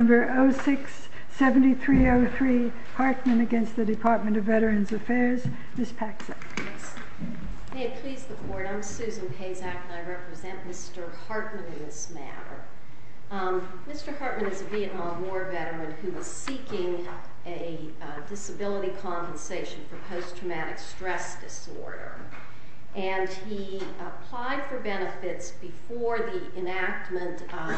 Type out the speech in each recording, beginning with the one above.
Number 067303 Hartman against the Department of Veterans Affairs, Ms. Paxson. May it please the Court, I'm Susan Pazak and I represent Mr. Hartman in this matter. Mr. Hartman is a Vietnam War veteran who was seeking a disability compensation for post-traumatic stress disorder. And he applied for benefits before the enactment of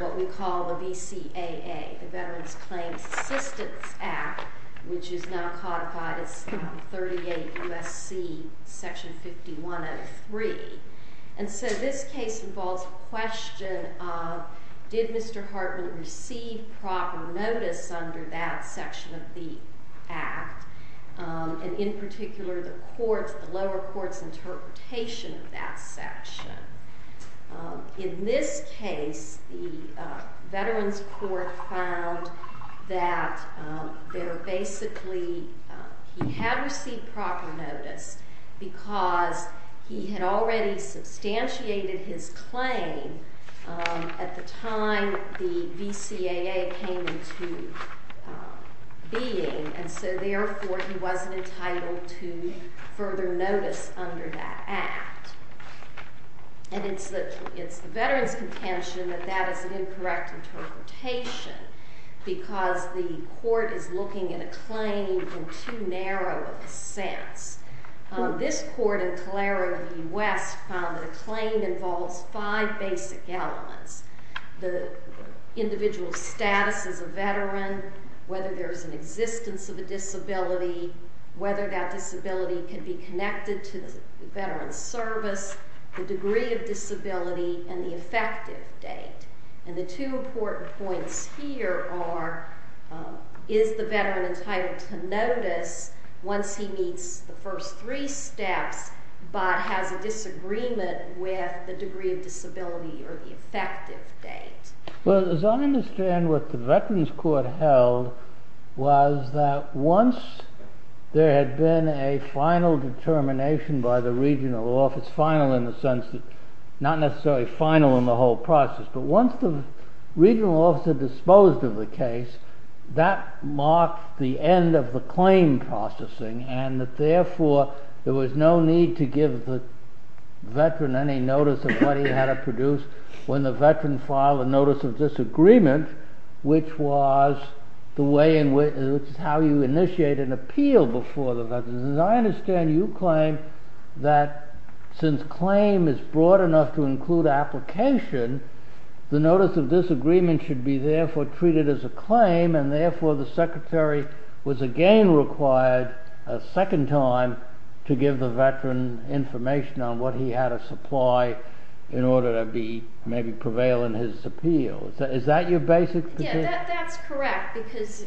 what we call the VCAA, the Veterans Claims Assistance Act, which is now codified as 38 U.S.C. Section 5103. And so this case involves a question of, did Mr. Hartman receive proper notice under that section of the act? And in particular, the lower court's interpretation of that section. In this case, the Veterans Court found that basically he had received proper notice because he had already substantiated his claim at the time the VCAA came into being. And so therefore, he wasn't entitled to further notice under that act. And it's the veterans' contention that that is an incorrect interpretation because the court is looking at a claim in too narrow of a sense. This court in Calero in the U.S. found that a claim involves five basic elements. The individual's status as a veteran, whether there's an existence of a disability, whether that disability can be connected to the veteran's service, the degree of disability, and the effective date. And the two important points here are, is the veteran entitled to notice once he meets the first three steps but has a disagreement with the degree of disability or the effective date? Well, as I understand what the Veterans Court held was that once there had been a final determination by the regional office, final in the sense that not necessarily final in the whole process, but once the regional office had disposed of the case, that marked the end of the claim processing and that therefore there was no need to give the veteran any notice of what he had to produce when the veteran filed a notice of disagreement, which is how you initiate an appeal before the veteran. As I understand, you claim that since claim is broad enough to include application, the notice of disagreement should be therefore treated as a claim and therefore the secretary was again required a second time to give the veteran information on what he had to supply in order to maybe prevail in his appeal. Is that your basic position? Yeah, that's correct because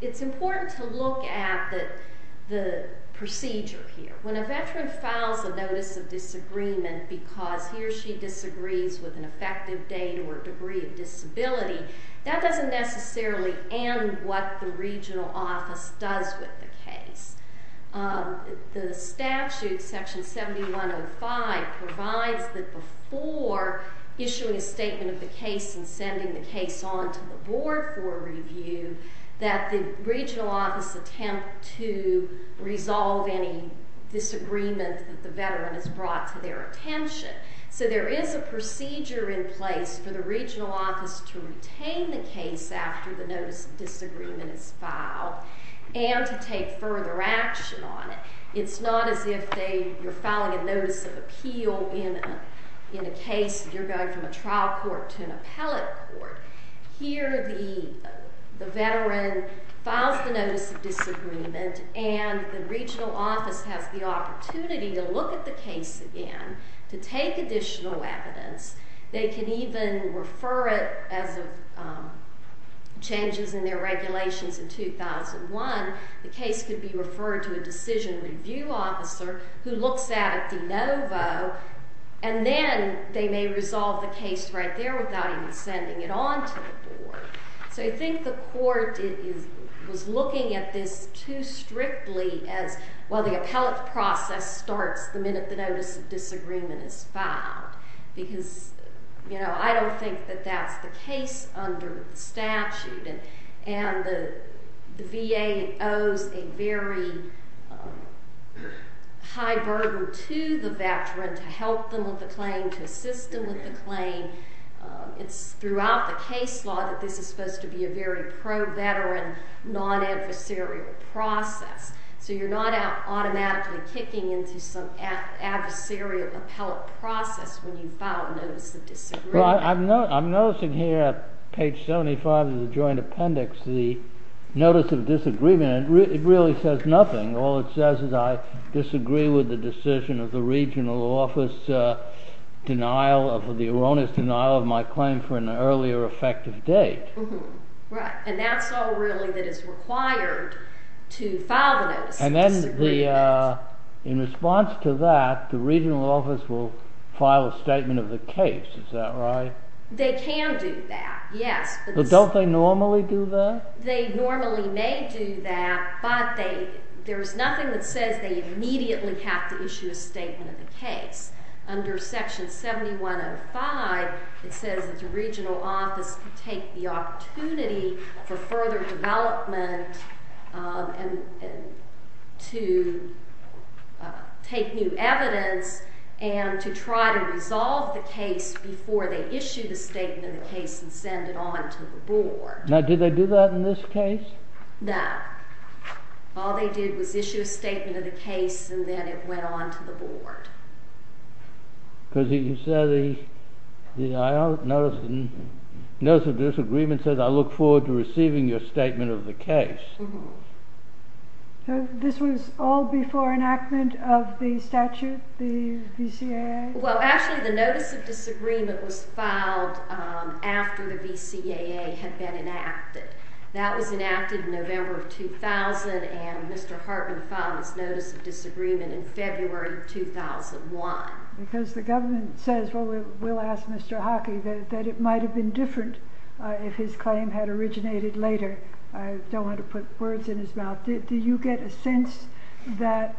it's important to look at the procedure here. When a veteran files a notice of disagreement because he or she disagrees with an effective date or degree of disability, that doesn't necessarily end what the regional office does with the case. The statute, section 7105, provides that before issuing a statement of the case and sending the case on to the board for review that the regional office attempt to resolve any disagreement that the veteran has brought to their attention. So there is a procedure in place for the regional office to retain the case after the notice of disagreement is filed and to take further action on it. It's not as if you're filing a notice of appeal in a case that you're going from a trial court to an appellate court. Here the veteran files the notice of disagreement and the regional office has the opportunity to look at the case again to take additional evidence. They can even refer it as changes in their regulations in 2001. The case could be referred to a decision review officer who looks at it de novo and then they may resolve the case right there without even sending it on to the board. So I think the court was looking at this too strictly as, well, the appellate process starts the minute the notice of disagreement is filed because, you know, I don't think that that's the case under the statute. And the VA owes a very high burden to the veteran to help them with the claim, to assist them with the claim. It's throughout the case law that this is supposed to be a very pro-veteran, non-adversarial process. So you're not automatically kicking into some adversarial appellate process when you file a notice of disagreement. Well, I'm noticing here at page 75 of the joint appendix the notice of disagreement. It really says nothing. All it says is I disagree with the decision of the regional office denial of the erroneous denial of my claim for an earlier effective date. Right, and that's all really that is required to file the notice of disagreement. And then in response to that, the regional office will file a statement of the case. Is that right? They can do that, yes. But don't they normally do that? They normally may do that, but there is nothing that says they immediately have to issue a statement of the case. Under section 7105, it says that the regional office can take the opportunity for further development to take new evidence and to try to resolve the case before they issue the statement of the case and send it on to the board. Now, did they do that in this case? No. All they did was issue a statement of the case and then it went on to the board. Because you said the notice of disagreement says I look forward to receiving your statement of the case. So this was all before enactment of the statute, the VCAA? Well, actually, the notice of disagreement was filed after the VCAA had been enacted. That was enacted in November of 2000, and Mr. Hartman filed his notice of disagreement in February of 2001. Because the government says, well, we'll ask Mr. Hockey, that it might have been different if his claim had originated later. I don't want to put words in his mouth. Do you get a sense that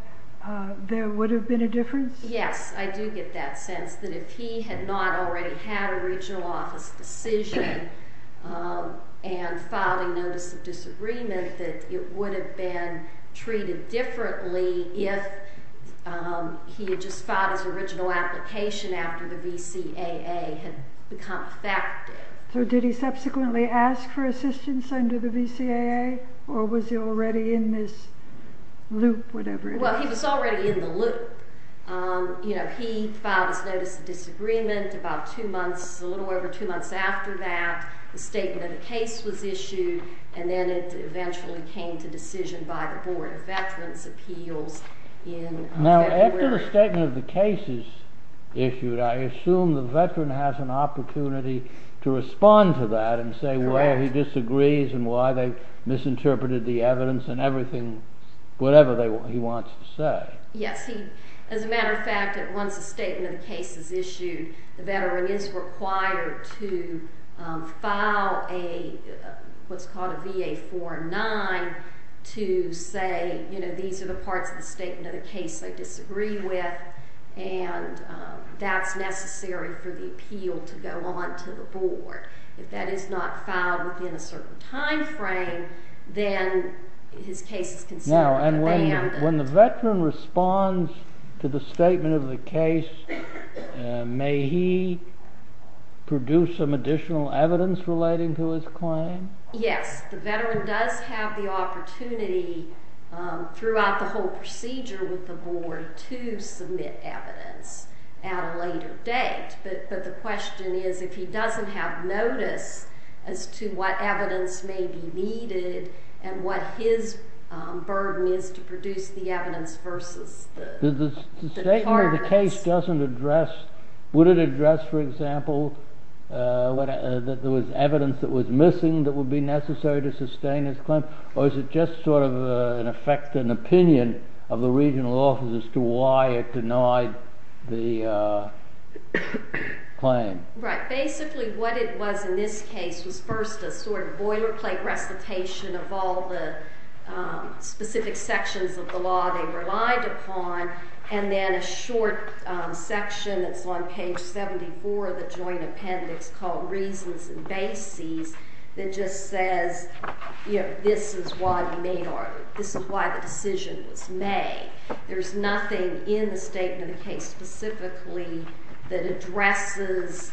there would have been a difference? Yes, I do get that sense, that if he had not already had a regional office decision and filed a notice of disagreement, that it would have been treated differently if he had just filed his original application after the VCAA had become effective. So did he subsequently ask for assistance under the VCAA, or was he already in this loop, whatever it is? Well, he was already in the loop. He filed his notice of disagreement a little over two months after that. The statement of the case was issued, and then it eventually came to decision by the Board of Veterans' Appeals in February. Now, after the statement of the case is issued, I assume the veteran has an opportunity to respond to that and say why he disagrees and why they misinterpreted the evidence and everything, whatever he wants to say. Yes. As a matter of fact, once a statement of the case is issued, the veteran is required to file what's called a VA-4-9 to say, you know, these are the parts of the statement of the case I disagree with, and that's necessary for the appeal to go on to the Board. If that is not filed within a certain time frame, then his case is considered abandoned. Now, when the veteran responds to the statement of the case, may he produce some additional evidence relating to his claim? Yes. The veteran does have the opportunity throughout the whole procedure with the Board to submit evidence at a later date. But the question is, if he doesn't have notice as to what evidence may be needed and what his burden is to produce the evidence versus the charge. The statement of the case doesn't address, would it address, for example, that there was evidence that was missing that would be necessary to sustain his claim? Or is it just sort of, in effect, an opinion of the regional office as to why it denied the claim? Right. Basically, what it was in this case was first a sort of boilerplate recitation of all the specific sections of the law they relied upon, and then a short section that's on page 74 of the joint appendix called reasons and bases that just says, you know, this is why the decision was made. There's nothing in the statement of the case specifically that addresses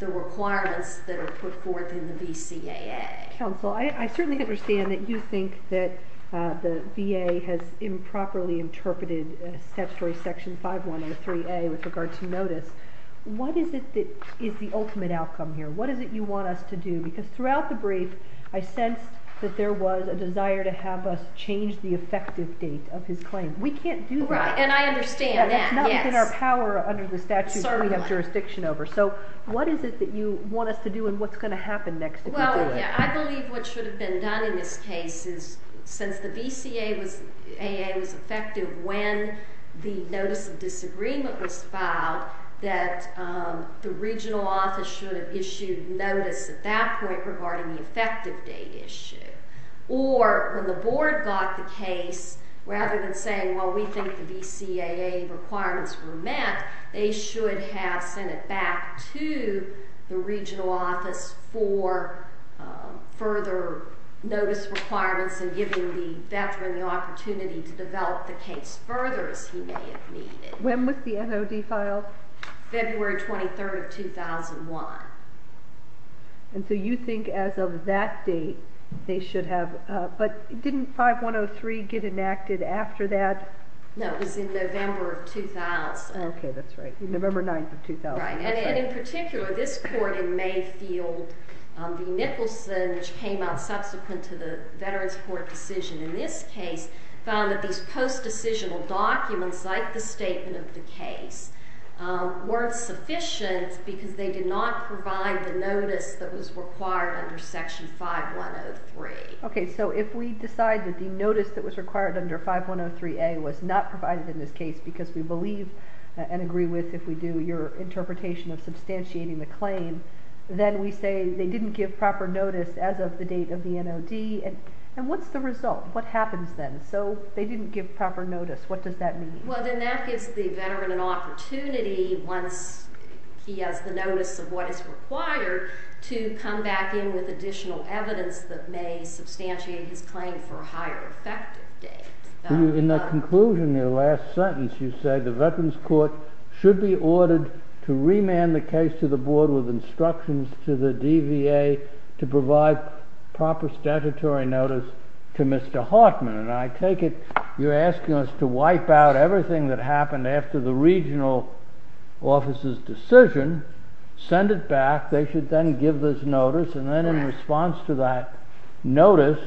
the requirements that are put forth in the VCAA. Counsel, I certainly understand that you think that the VA has improperly interpreted Statutory Section 5.1 of the 3A with regard to notice. What is it that is the ultimate outcome here? What is it you want us to do? Because throughout the brief, I sensed that there was a desire to have us change the effective date of his claim. We can't do that. Right, and I understand that. That's not within our power under the statute that we have jurisdiction over. So what is it that you want us to do, and what's going to happen next if we do it? Well, yeah, I believe what should have been done in this case is since the VCAA was effective when the notice of disagreement was filed, that the regional office should have issued notice at that point regarding the effective date issue. Or when the board got the case, rather than saying, well, we think the VCAA requirements were met, they should have sent it back to the regional office for further notice requirements and giving the veteran the opportunity to develop the case further as he may have needed. When was the NOD filed? February 23, 2001. And so you think as of that date, they should have. But didn't 5.103 get enacted after that? No, it was in November of 2000. Okay, that's right, November 9, 2000. Right, and in particular, this court in Mayfield v. Nicholson, which came out subsequent to the Veterans Court decision in this case, found that these post-decisional documents, like the statement of the case, weren't sufficient because they did not provide the notice that was required under Section 5.103. Okay, so if we decide that the notice that was required under 5.103a was not provided in this case because we believe and agree with, if we do, your interpretation of substantiating the claim, then we say they didn't give proper notice as of the date of the NOD. And what's the result? What happens then? So they didn't give proper notice. What does that mean? Well, then that gives the veteran an opportunity, once he has the notice of what is required, to come back in with additional evidence that may substantiate his claim for a higher effective date. In the conclusion of your last sentence, you said the Veterans Court should be ordered to remand the case to the board with instructions to the DVA to provide proper statutory notice to Mr. Hartman. And I take it you're asking us to wipe out everything that happened after the regional officer's decision, send it back, they should then give this notice, and then in response to that notice,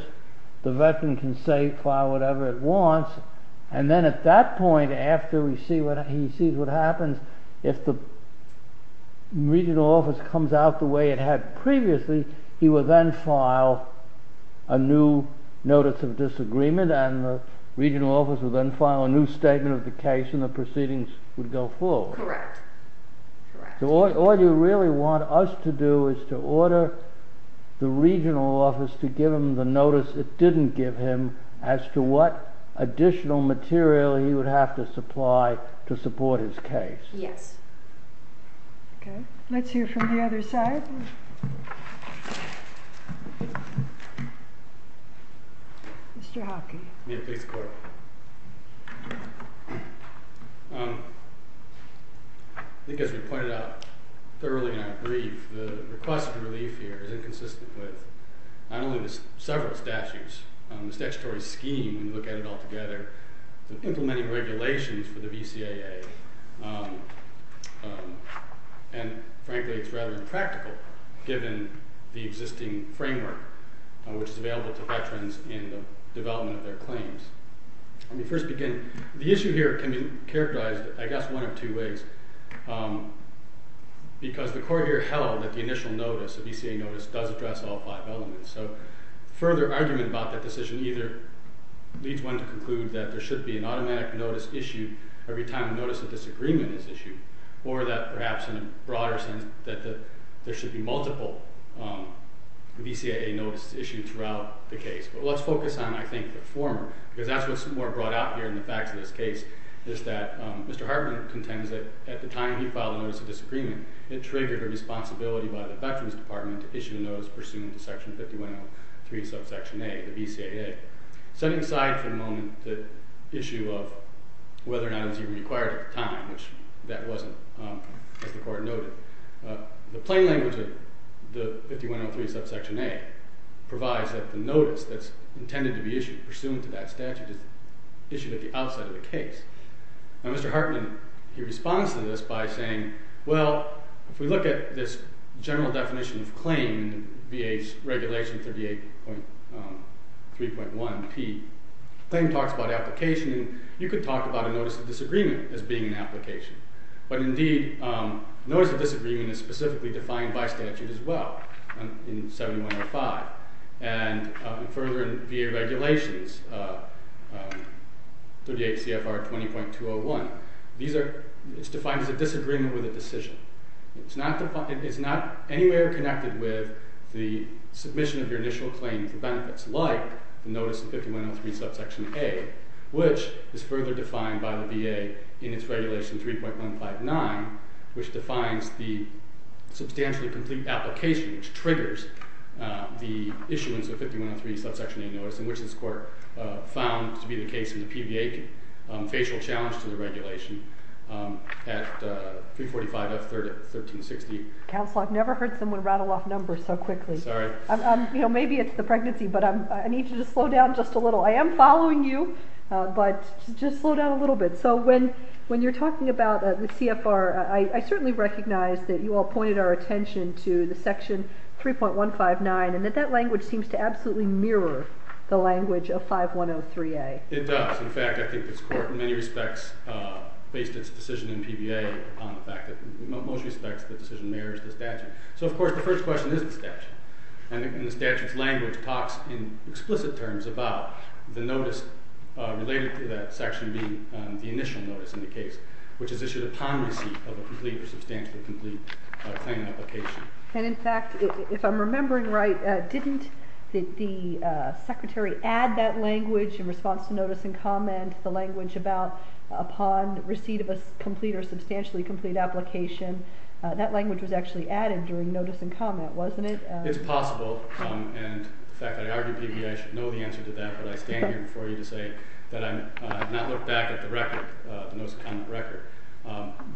the veteran can say, file whatever it wants, and then at that point after he sees what happens, if the regional office comes out the way it had previously, he will then file a new notice of disagreement, and the regional office will then file a new statement of the case, and the proceedings would go forward. Correct. So all you really want us to do is to order the regional office to give him the notice it didn't give him as to what additional material he would have to supply to support his case. Yes. Okay. Let's hear from the other side. Mr. Hockey. May I please quote? I think as we pointed out thoroughly and I agree, the request for relief here is inconsistent with not only the several statutes, the statutory scheme when you look at it all together, the implementing regulations for the VCAA, and frankly it's rather impractical given the existing framework, which is available to veterans in the development of their claims. Let me first begin. The issue here can be characterized, I guess, one of two ways. Because the court here held that the initial notice, the VCAA notice, does address all five elements. So further argument about that decision either leads one to conclude that there should be an automatic notice issued every time a notice of disagreement is issued, or that perhaps in a broader sense that there should be multiple VCAA notices issued throughout the case. But let's focus on, I think, the former, because that's what's more brought out here in the facts of this case, is that Mr. Hartman contends that at the time he filed a notice of disagreement, it triggered a responsibility by the Veterans Department to issue a notice pursuant to Section 5103, Subsection A, the VCAA. Setting aside for the moment the issue of whether or not it was even required at the time, which that wasn't, as the court noted, the plain language of the 5103, Subsection A, provides that the notice that's intended to be issued pursuant to that statute is issued at the outside of the case. Now Mr. Hartman, he responds to this by saying, well, if we look at this general definition of claim in VA's Regulation 38.3.1p, the claim talks about application, and you could talk about a notice of disagreement as being an application. But indeed, notice of disagreement is specifically defined by statute as well in 7105. And further in VA Regulations 38 CFR 20.201, it's defined as a disagreement with a decision. It's not anywhere connected with the submission of your initial claim for benefits, like the notice of 5103, Subsection A, which is further defined by the VA in its Regulation 3.159, which defines the substantially complete application, which triggers the issuance of 5103, Subsection A notice, in which this court found to be the case in the PVA facial challenge to the regulation at 345 F. 3rd of 1360. Counsel, I've never heard someone rattle off numbers so quickly. Sorry. Maybe it's the pregnancy, but I need you to slow down just a little. I am following you, but just slow down a little bit. So when you're talking about the CFR, I certainly recognize that you all pointed our attention to the Section 3.159 and that that language seems to absolutely mirror the language of 5103A. It does. In fact, I think this court in many respects based its decision in PVA on the fact that in most respects the decision mirrors the statute. So, of course, the first question is the statute, and the statute's language talks in explicit terms about the notice related to that section being the initial notice in the case, which is issued upon receipt of a complete or substantially complete claim and application. And, in fact, if I'm remembering right, didn't the Secretary add that language in response to notice and comment, the language about upon receipt of a complete or substantially complete application? That language was actually added during notice and comment, wasn't it? It's possible, and the fact that I argue PVA, I should know the answer to that, but I stand here before you to say that I have not looked back at the record, the notice and comment record.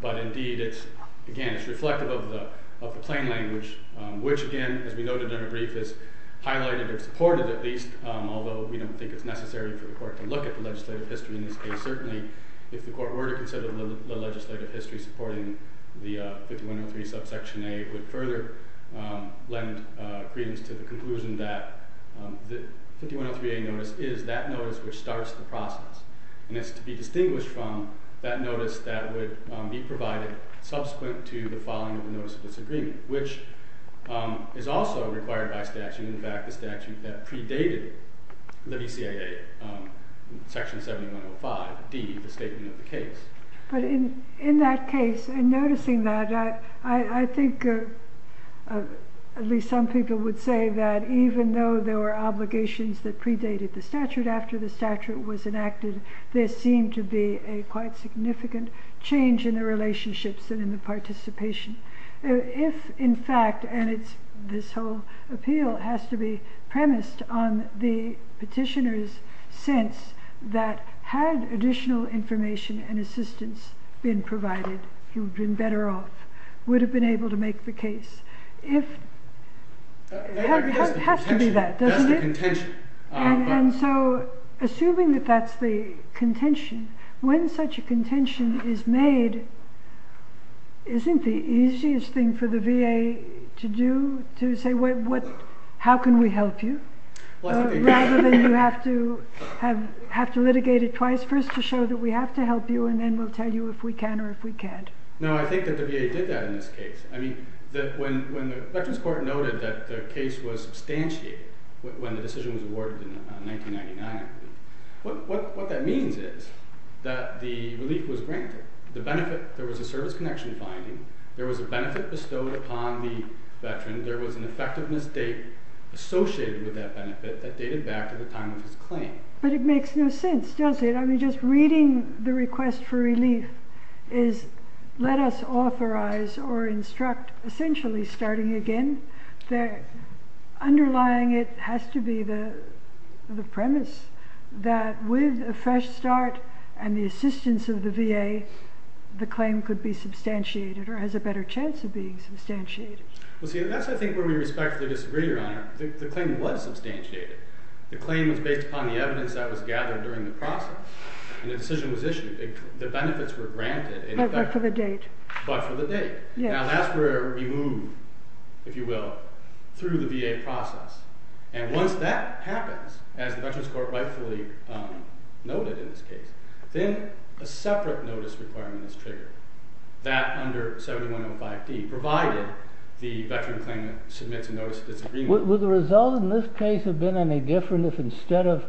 But, indeed, it's, again, it's reflective of the plain language, which, again, as we noted in our brief, is highlighted or supported at least, although we don't think it's necessary for the court to look at the legislative history in this case. But, certainly, if the court were to consider the legislative history supporting the 5103 subsection A, it would further lend credence to the conclusion that the 5103A notice is that notice which starts the process, and it's to be distinguished from that notice that would be provided subsequent to the following of the notice of disagreement, which is also required by statute. And, in fact, the statute that predated the BCIA, section 7105D, the statement of the case. But, in that case, in noticing that, I think at least some people would say that even though there were obligations that predated the statute after the statute was enacted, there seemed to be a quite significant change in the relationships and in the participation. If, in fact, and this whole appeal has to be premised on the petitioner's sense that had additional information and assistance been provided, he would have been better off, would have been able to make the case. It has to be that, doesn't it? And so, assuming that that's the contention, when such a contention is made, isn't the easiest thing for the VA to do, to say, how can we help you? Rather than you have to litigate it twice, first to show that we have to help you, and then we'll tell you if we can or if we can't. No, I think that the VA did that in this case. I mean, when the Veterans Court noted that the case was substantiated when the decision was awarded in 1999, what that means is that the relief was granted. There was a service connection finding. There was a benefit bestowed upon the veteran. There was an effectiveness date associated with that benefit that dated back to the time of his claim. But it makes no sense, does it? I mean, just reading the request for relief is let us authorize or instruct, essentially starting again, underlying it has to be the premise that with a fresh start and the assistance of the VA, the claim could be substantiated or has a better chance of being substantiated. Well, see, that's, I think, where we respectfully disagree, Your Honor. The claim was substantiated. The claim was based upon the evidence that was gathered during the process. And the decision was issued. The benefits were granted. But for the date. But for the date. Now that's where we move, if you will, through the VA process. And once that happens, as the Veterans Court rightfully noted in this case, then a separate notice requirement is triggered. That under 7105D, provided the veteran claimant submits a notice of disagreement. Would the result in this case have been any different if instead of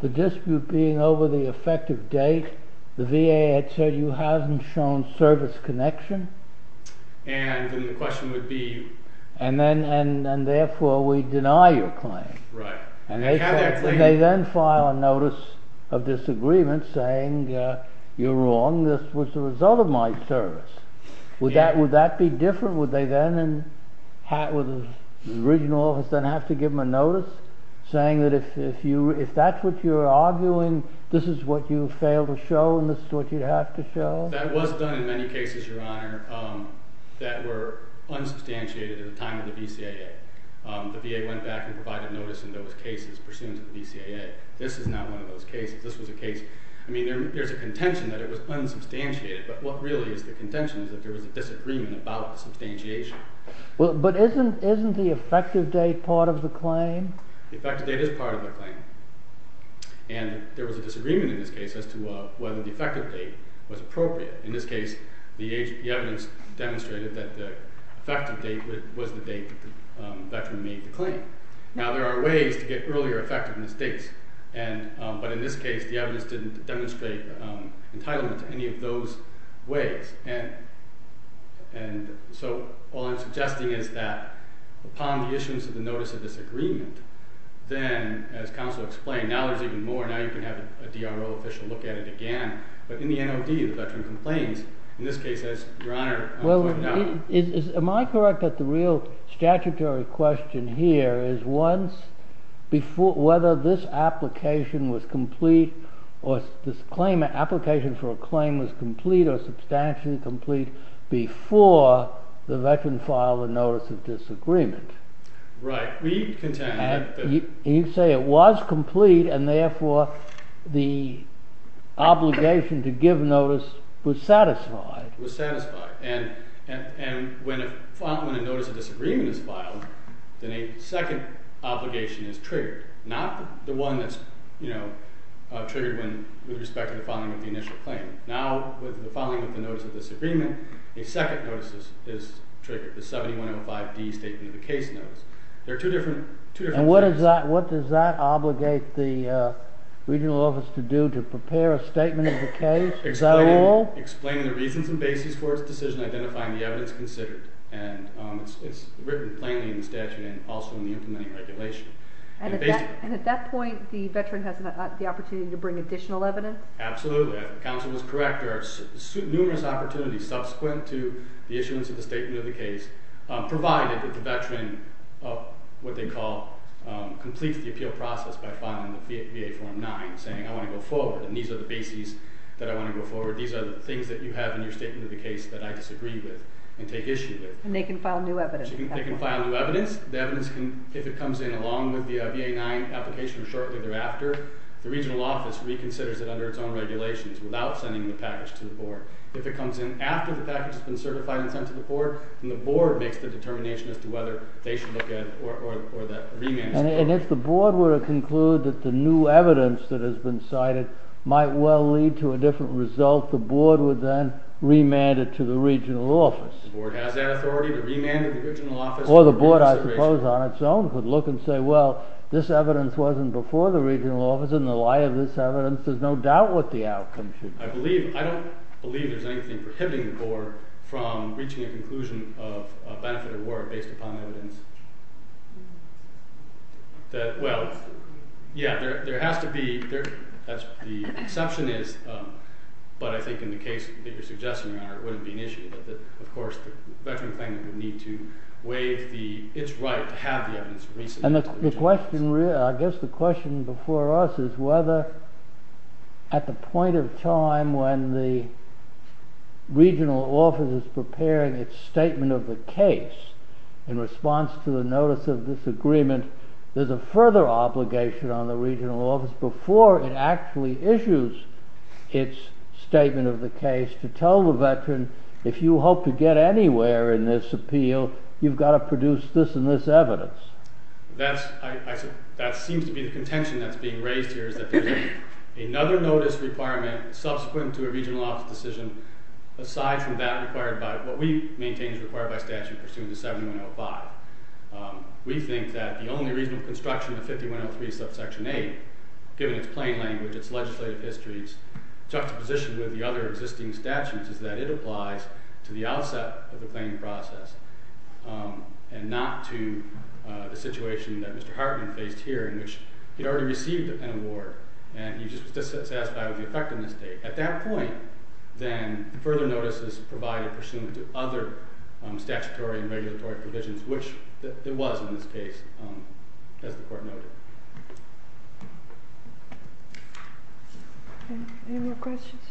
the dispute being over the effective date, the VA had said, you haven't shown service connection? And then the question would be... And therefore we deny your claim. Right. And they then file a notice of disagreement saying, you're wrong, this was the result of my service. Would that be different? Would the regional office then have to give them a notice saying that if that's what you're arguing, this is what you failed to show, and this is what you have to show? That was done in many cases, Your Honor, that were unsubstantiated at the time of the BCAA. The VA went back and provided notice in those cases pursuant to the BCAA. This is not one of those cases. This was a case... I mean, there's a contention that it was unsubstantiated. But what really is the contention is that there was a disagreement about the substantiation. But isn't the effective date part of the claim? The effective date is part of the claim. And there was a disagreement in this case as to whether the effective date was appropriate. In this case, the evidence demonstrated that the effective date was the date that the veteran made the claim. Now, there are ways to get earlier effectiveness dates. But in this case, the evidence didn't demonstrate entitlement to any of those ways. And so all I'm suggesting is that upon the issuance of the notice of disagreement, then, as counsel explained, now there's even more. Now you can have a DRO official look at it again. But in the NOD, the veteran complains. In this case, as your Honor... Am I correct that the real statutory question here is whether this application for a claim was complete or substantially complete before the veteran filed a notice of disagreement? Right. We contend that... You say it was complete, and therefore the obligation to give notice was satisfied. Was satisfied. And when a notice of disagreement is filed, then a second obligation is triggered, not the one that's triggered with respect to the filing of the initial claim. Now, with the filing of the notice of disagreement, a second notice is triggered, the 7105D statement of the case notice. There are two different... And what does that obligate the regional office to do to prepare a statement of the case? Is that all? Explain the reasons and basis for its decision identifying the evidence considered. And it's written plainly in the statute and also in the implementing regulation. And at that point, the veteran has the opportunity to bring additional evidence? Absolutely. As counsel was correct, there are numerous opportunities subsequent to the issuance of the statement of the case, provided that the veteran, what they call, completes the appeal process by filing the VA Form 9, saying, I want to go forward, and these are the bases that I want to go forward, these are the things that you have in your statement of the case that I disagree with and take issue with. And they can file new evidence. They can file new evidence. The evidence, if it comes in along with the VA 9 application or shortly thereafter, the regional office reconsiders it under its own regulations without sending the package to the board. If it comes in after the package has been certified and sent to the board, then the board makes the determination as to whether they should look at or that remand is required. And if the board were to conclude that the new evidence that has been cited might well lead to a different result, the board would then remand it to the regional office? The board has that authority to remand it to the regional office. Or the board, I suppose, on its own, would look and say, well, this evidence wasn't before the regional office and in the light of this evidence, there's no doubt what the outcome should be. I believe, I don't believe there's anything prohibiting the board from reaching a conclusion of benefit or war based upon evidence that, well, yeah, there has to be, the exception is, but I think in the case that you're suggesting, Your Honor, it wouldn't be an issue that, of course, the veteran claimant would need to waive its right to have the evidence resubmitted to the regional office. And the question, I guess the question before us is whether at the point of time when the regional office is preparing its statement of the case in response to the notice of this agreement, there's a further obligation on the regional office before it actually issues its statement of the case to tell the veteran, if you hope to get anywhere in this appeal, you've got to produce this and this evidence. That seems to be the contention that's being raised here, is that there's another notice requirement subsequent to a regional office decision aside from that required by, what we maintain is required by statute pursuant to 7105. We think that the only reasonable construction of 5103 subsection 8, given its plain language, its legislative histories, juxtaposition with the other existing statutes is that it applies to the outset of the claiming process and not to the situation that Mr. Hartman faced here in which he'd already received an award and he was just satisfied with the effectiveness date. At that point, then further notice is provided pursuant to other statutory and regulatory provisions, which it was in this case, as the court noted. Any more questions?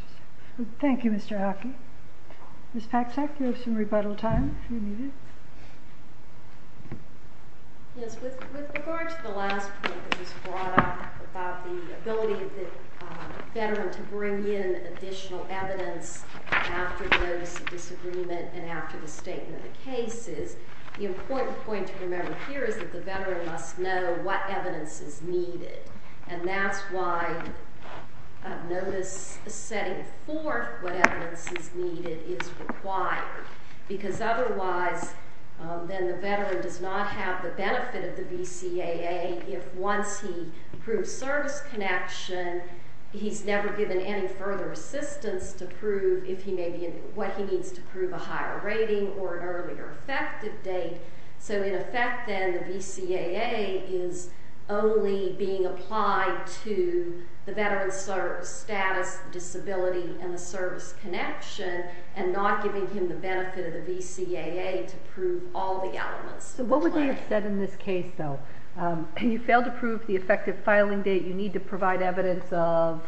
Thank you, Mr. Hockey. Ms. Paksak, you have some rebuttal time if you need it. Yes, with regard to the last point that was brought up about the ability of the veteran to bring in additional evidence after notice of disagreement and after the statement of cases, the important point to remember here is that the veteran must know what evidence is needed, and that's why notice setting forth what evidence is needed is required, because otherwise, then the veteran does not have the benefit of the VCAA if, once he proves service connection, he's never given any further assistance to prove what he needs to prove a higher rating or an earlier effective date. So, in effect, then, the VCAA is only being applied to the veteran's status, disability, and the service connection, and not giving him the benefit of the VCAA to prove all the elements of the claim. So what would they have said in this case, though? If you fail to prove the effective filing date, you need to provide evidence of...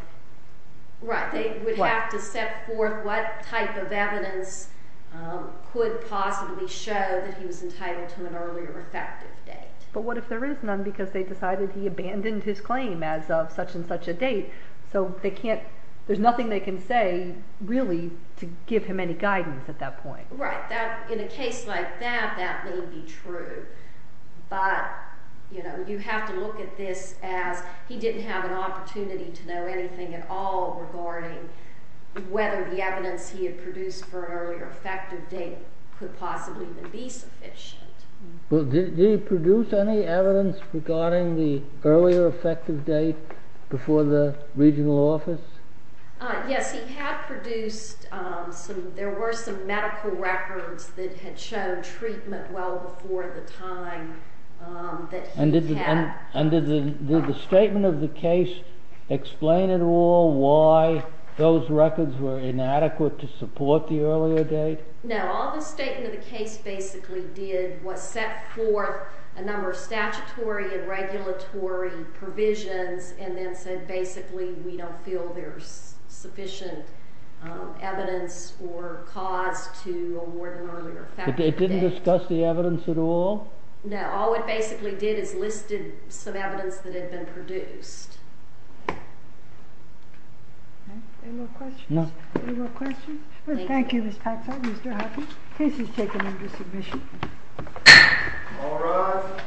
Right, they would have to set forth what type of evidence could possibly show that he was entitled to an earlier effective date. But what if there is none because they decided he abandoned his claim as of such and such a date? So they can't... There's nothing they can say, really, to give him any guidance at that point. Right. In a case like that, that may be true. But, you know, you have to look at this as he didn't have an opportunity to know anything at all regarding whether the evidence he had produced for an earlier effective date could possibly even be sufficient. Well, did he produce any evidence regarding the earlier effective date before the regional office? Yes, he had produced some... There were some medical records that had shown treatment well before the time that he had... And did the statement of the case explain at all why those records were inadequate to support the earlier date? No, all the statement of the case basically did was set forth a number of statutory and regulatory provisions and then said, basically, we don't feel there's sufficient evidence or cause to award an earlier effective date. But they didn't discuss the evidence at all? No, all it basically did is listed some evidence that had been produced. Any more questions? No. Any more questions? Thank you, Ms. Paxson. Mr. Hoffman, case is taken into submission. All rise.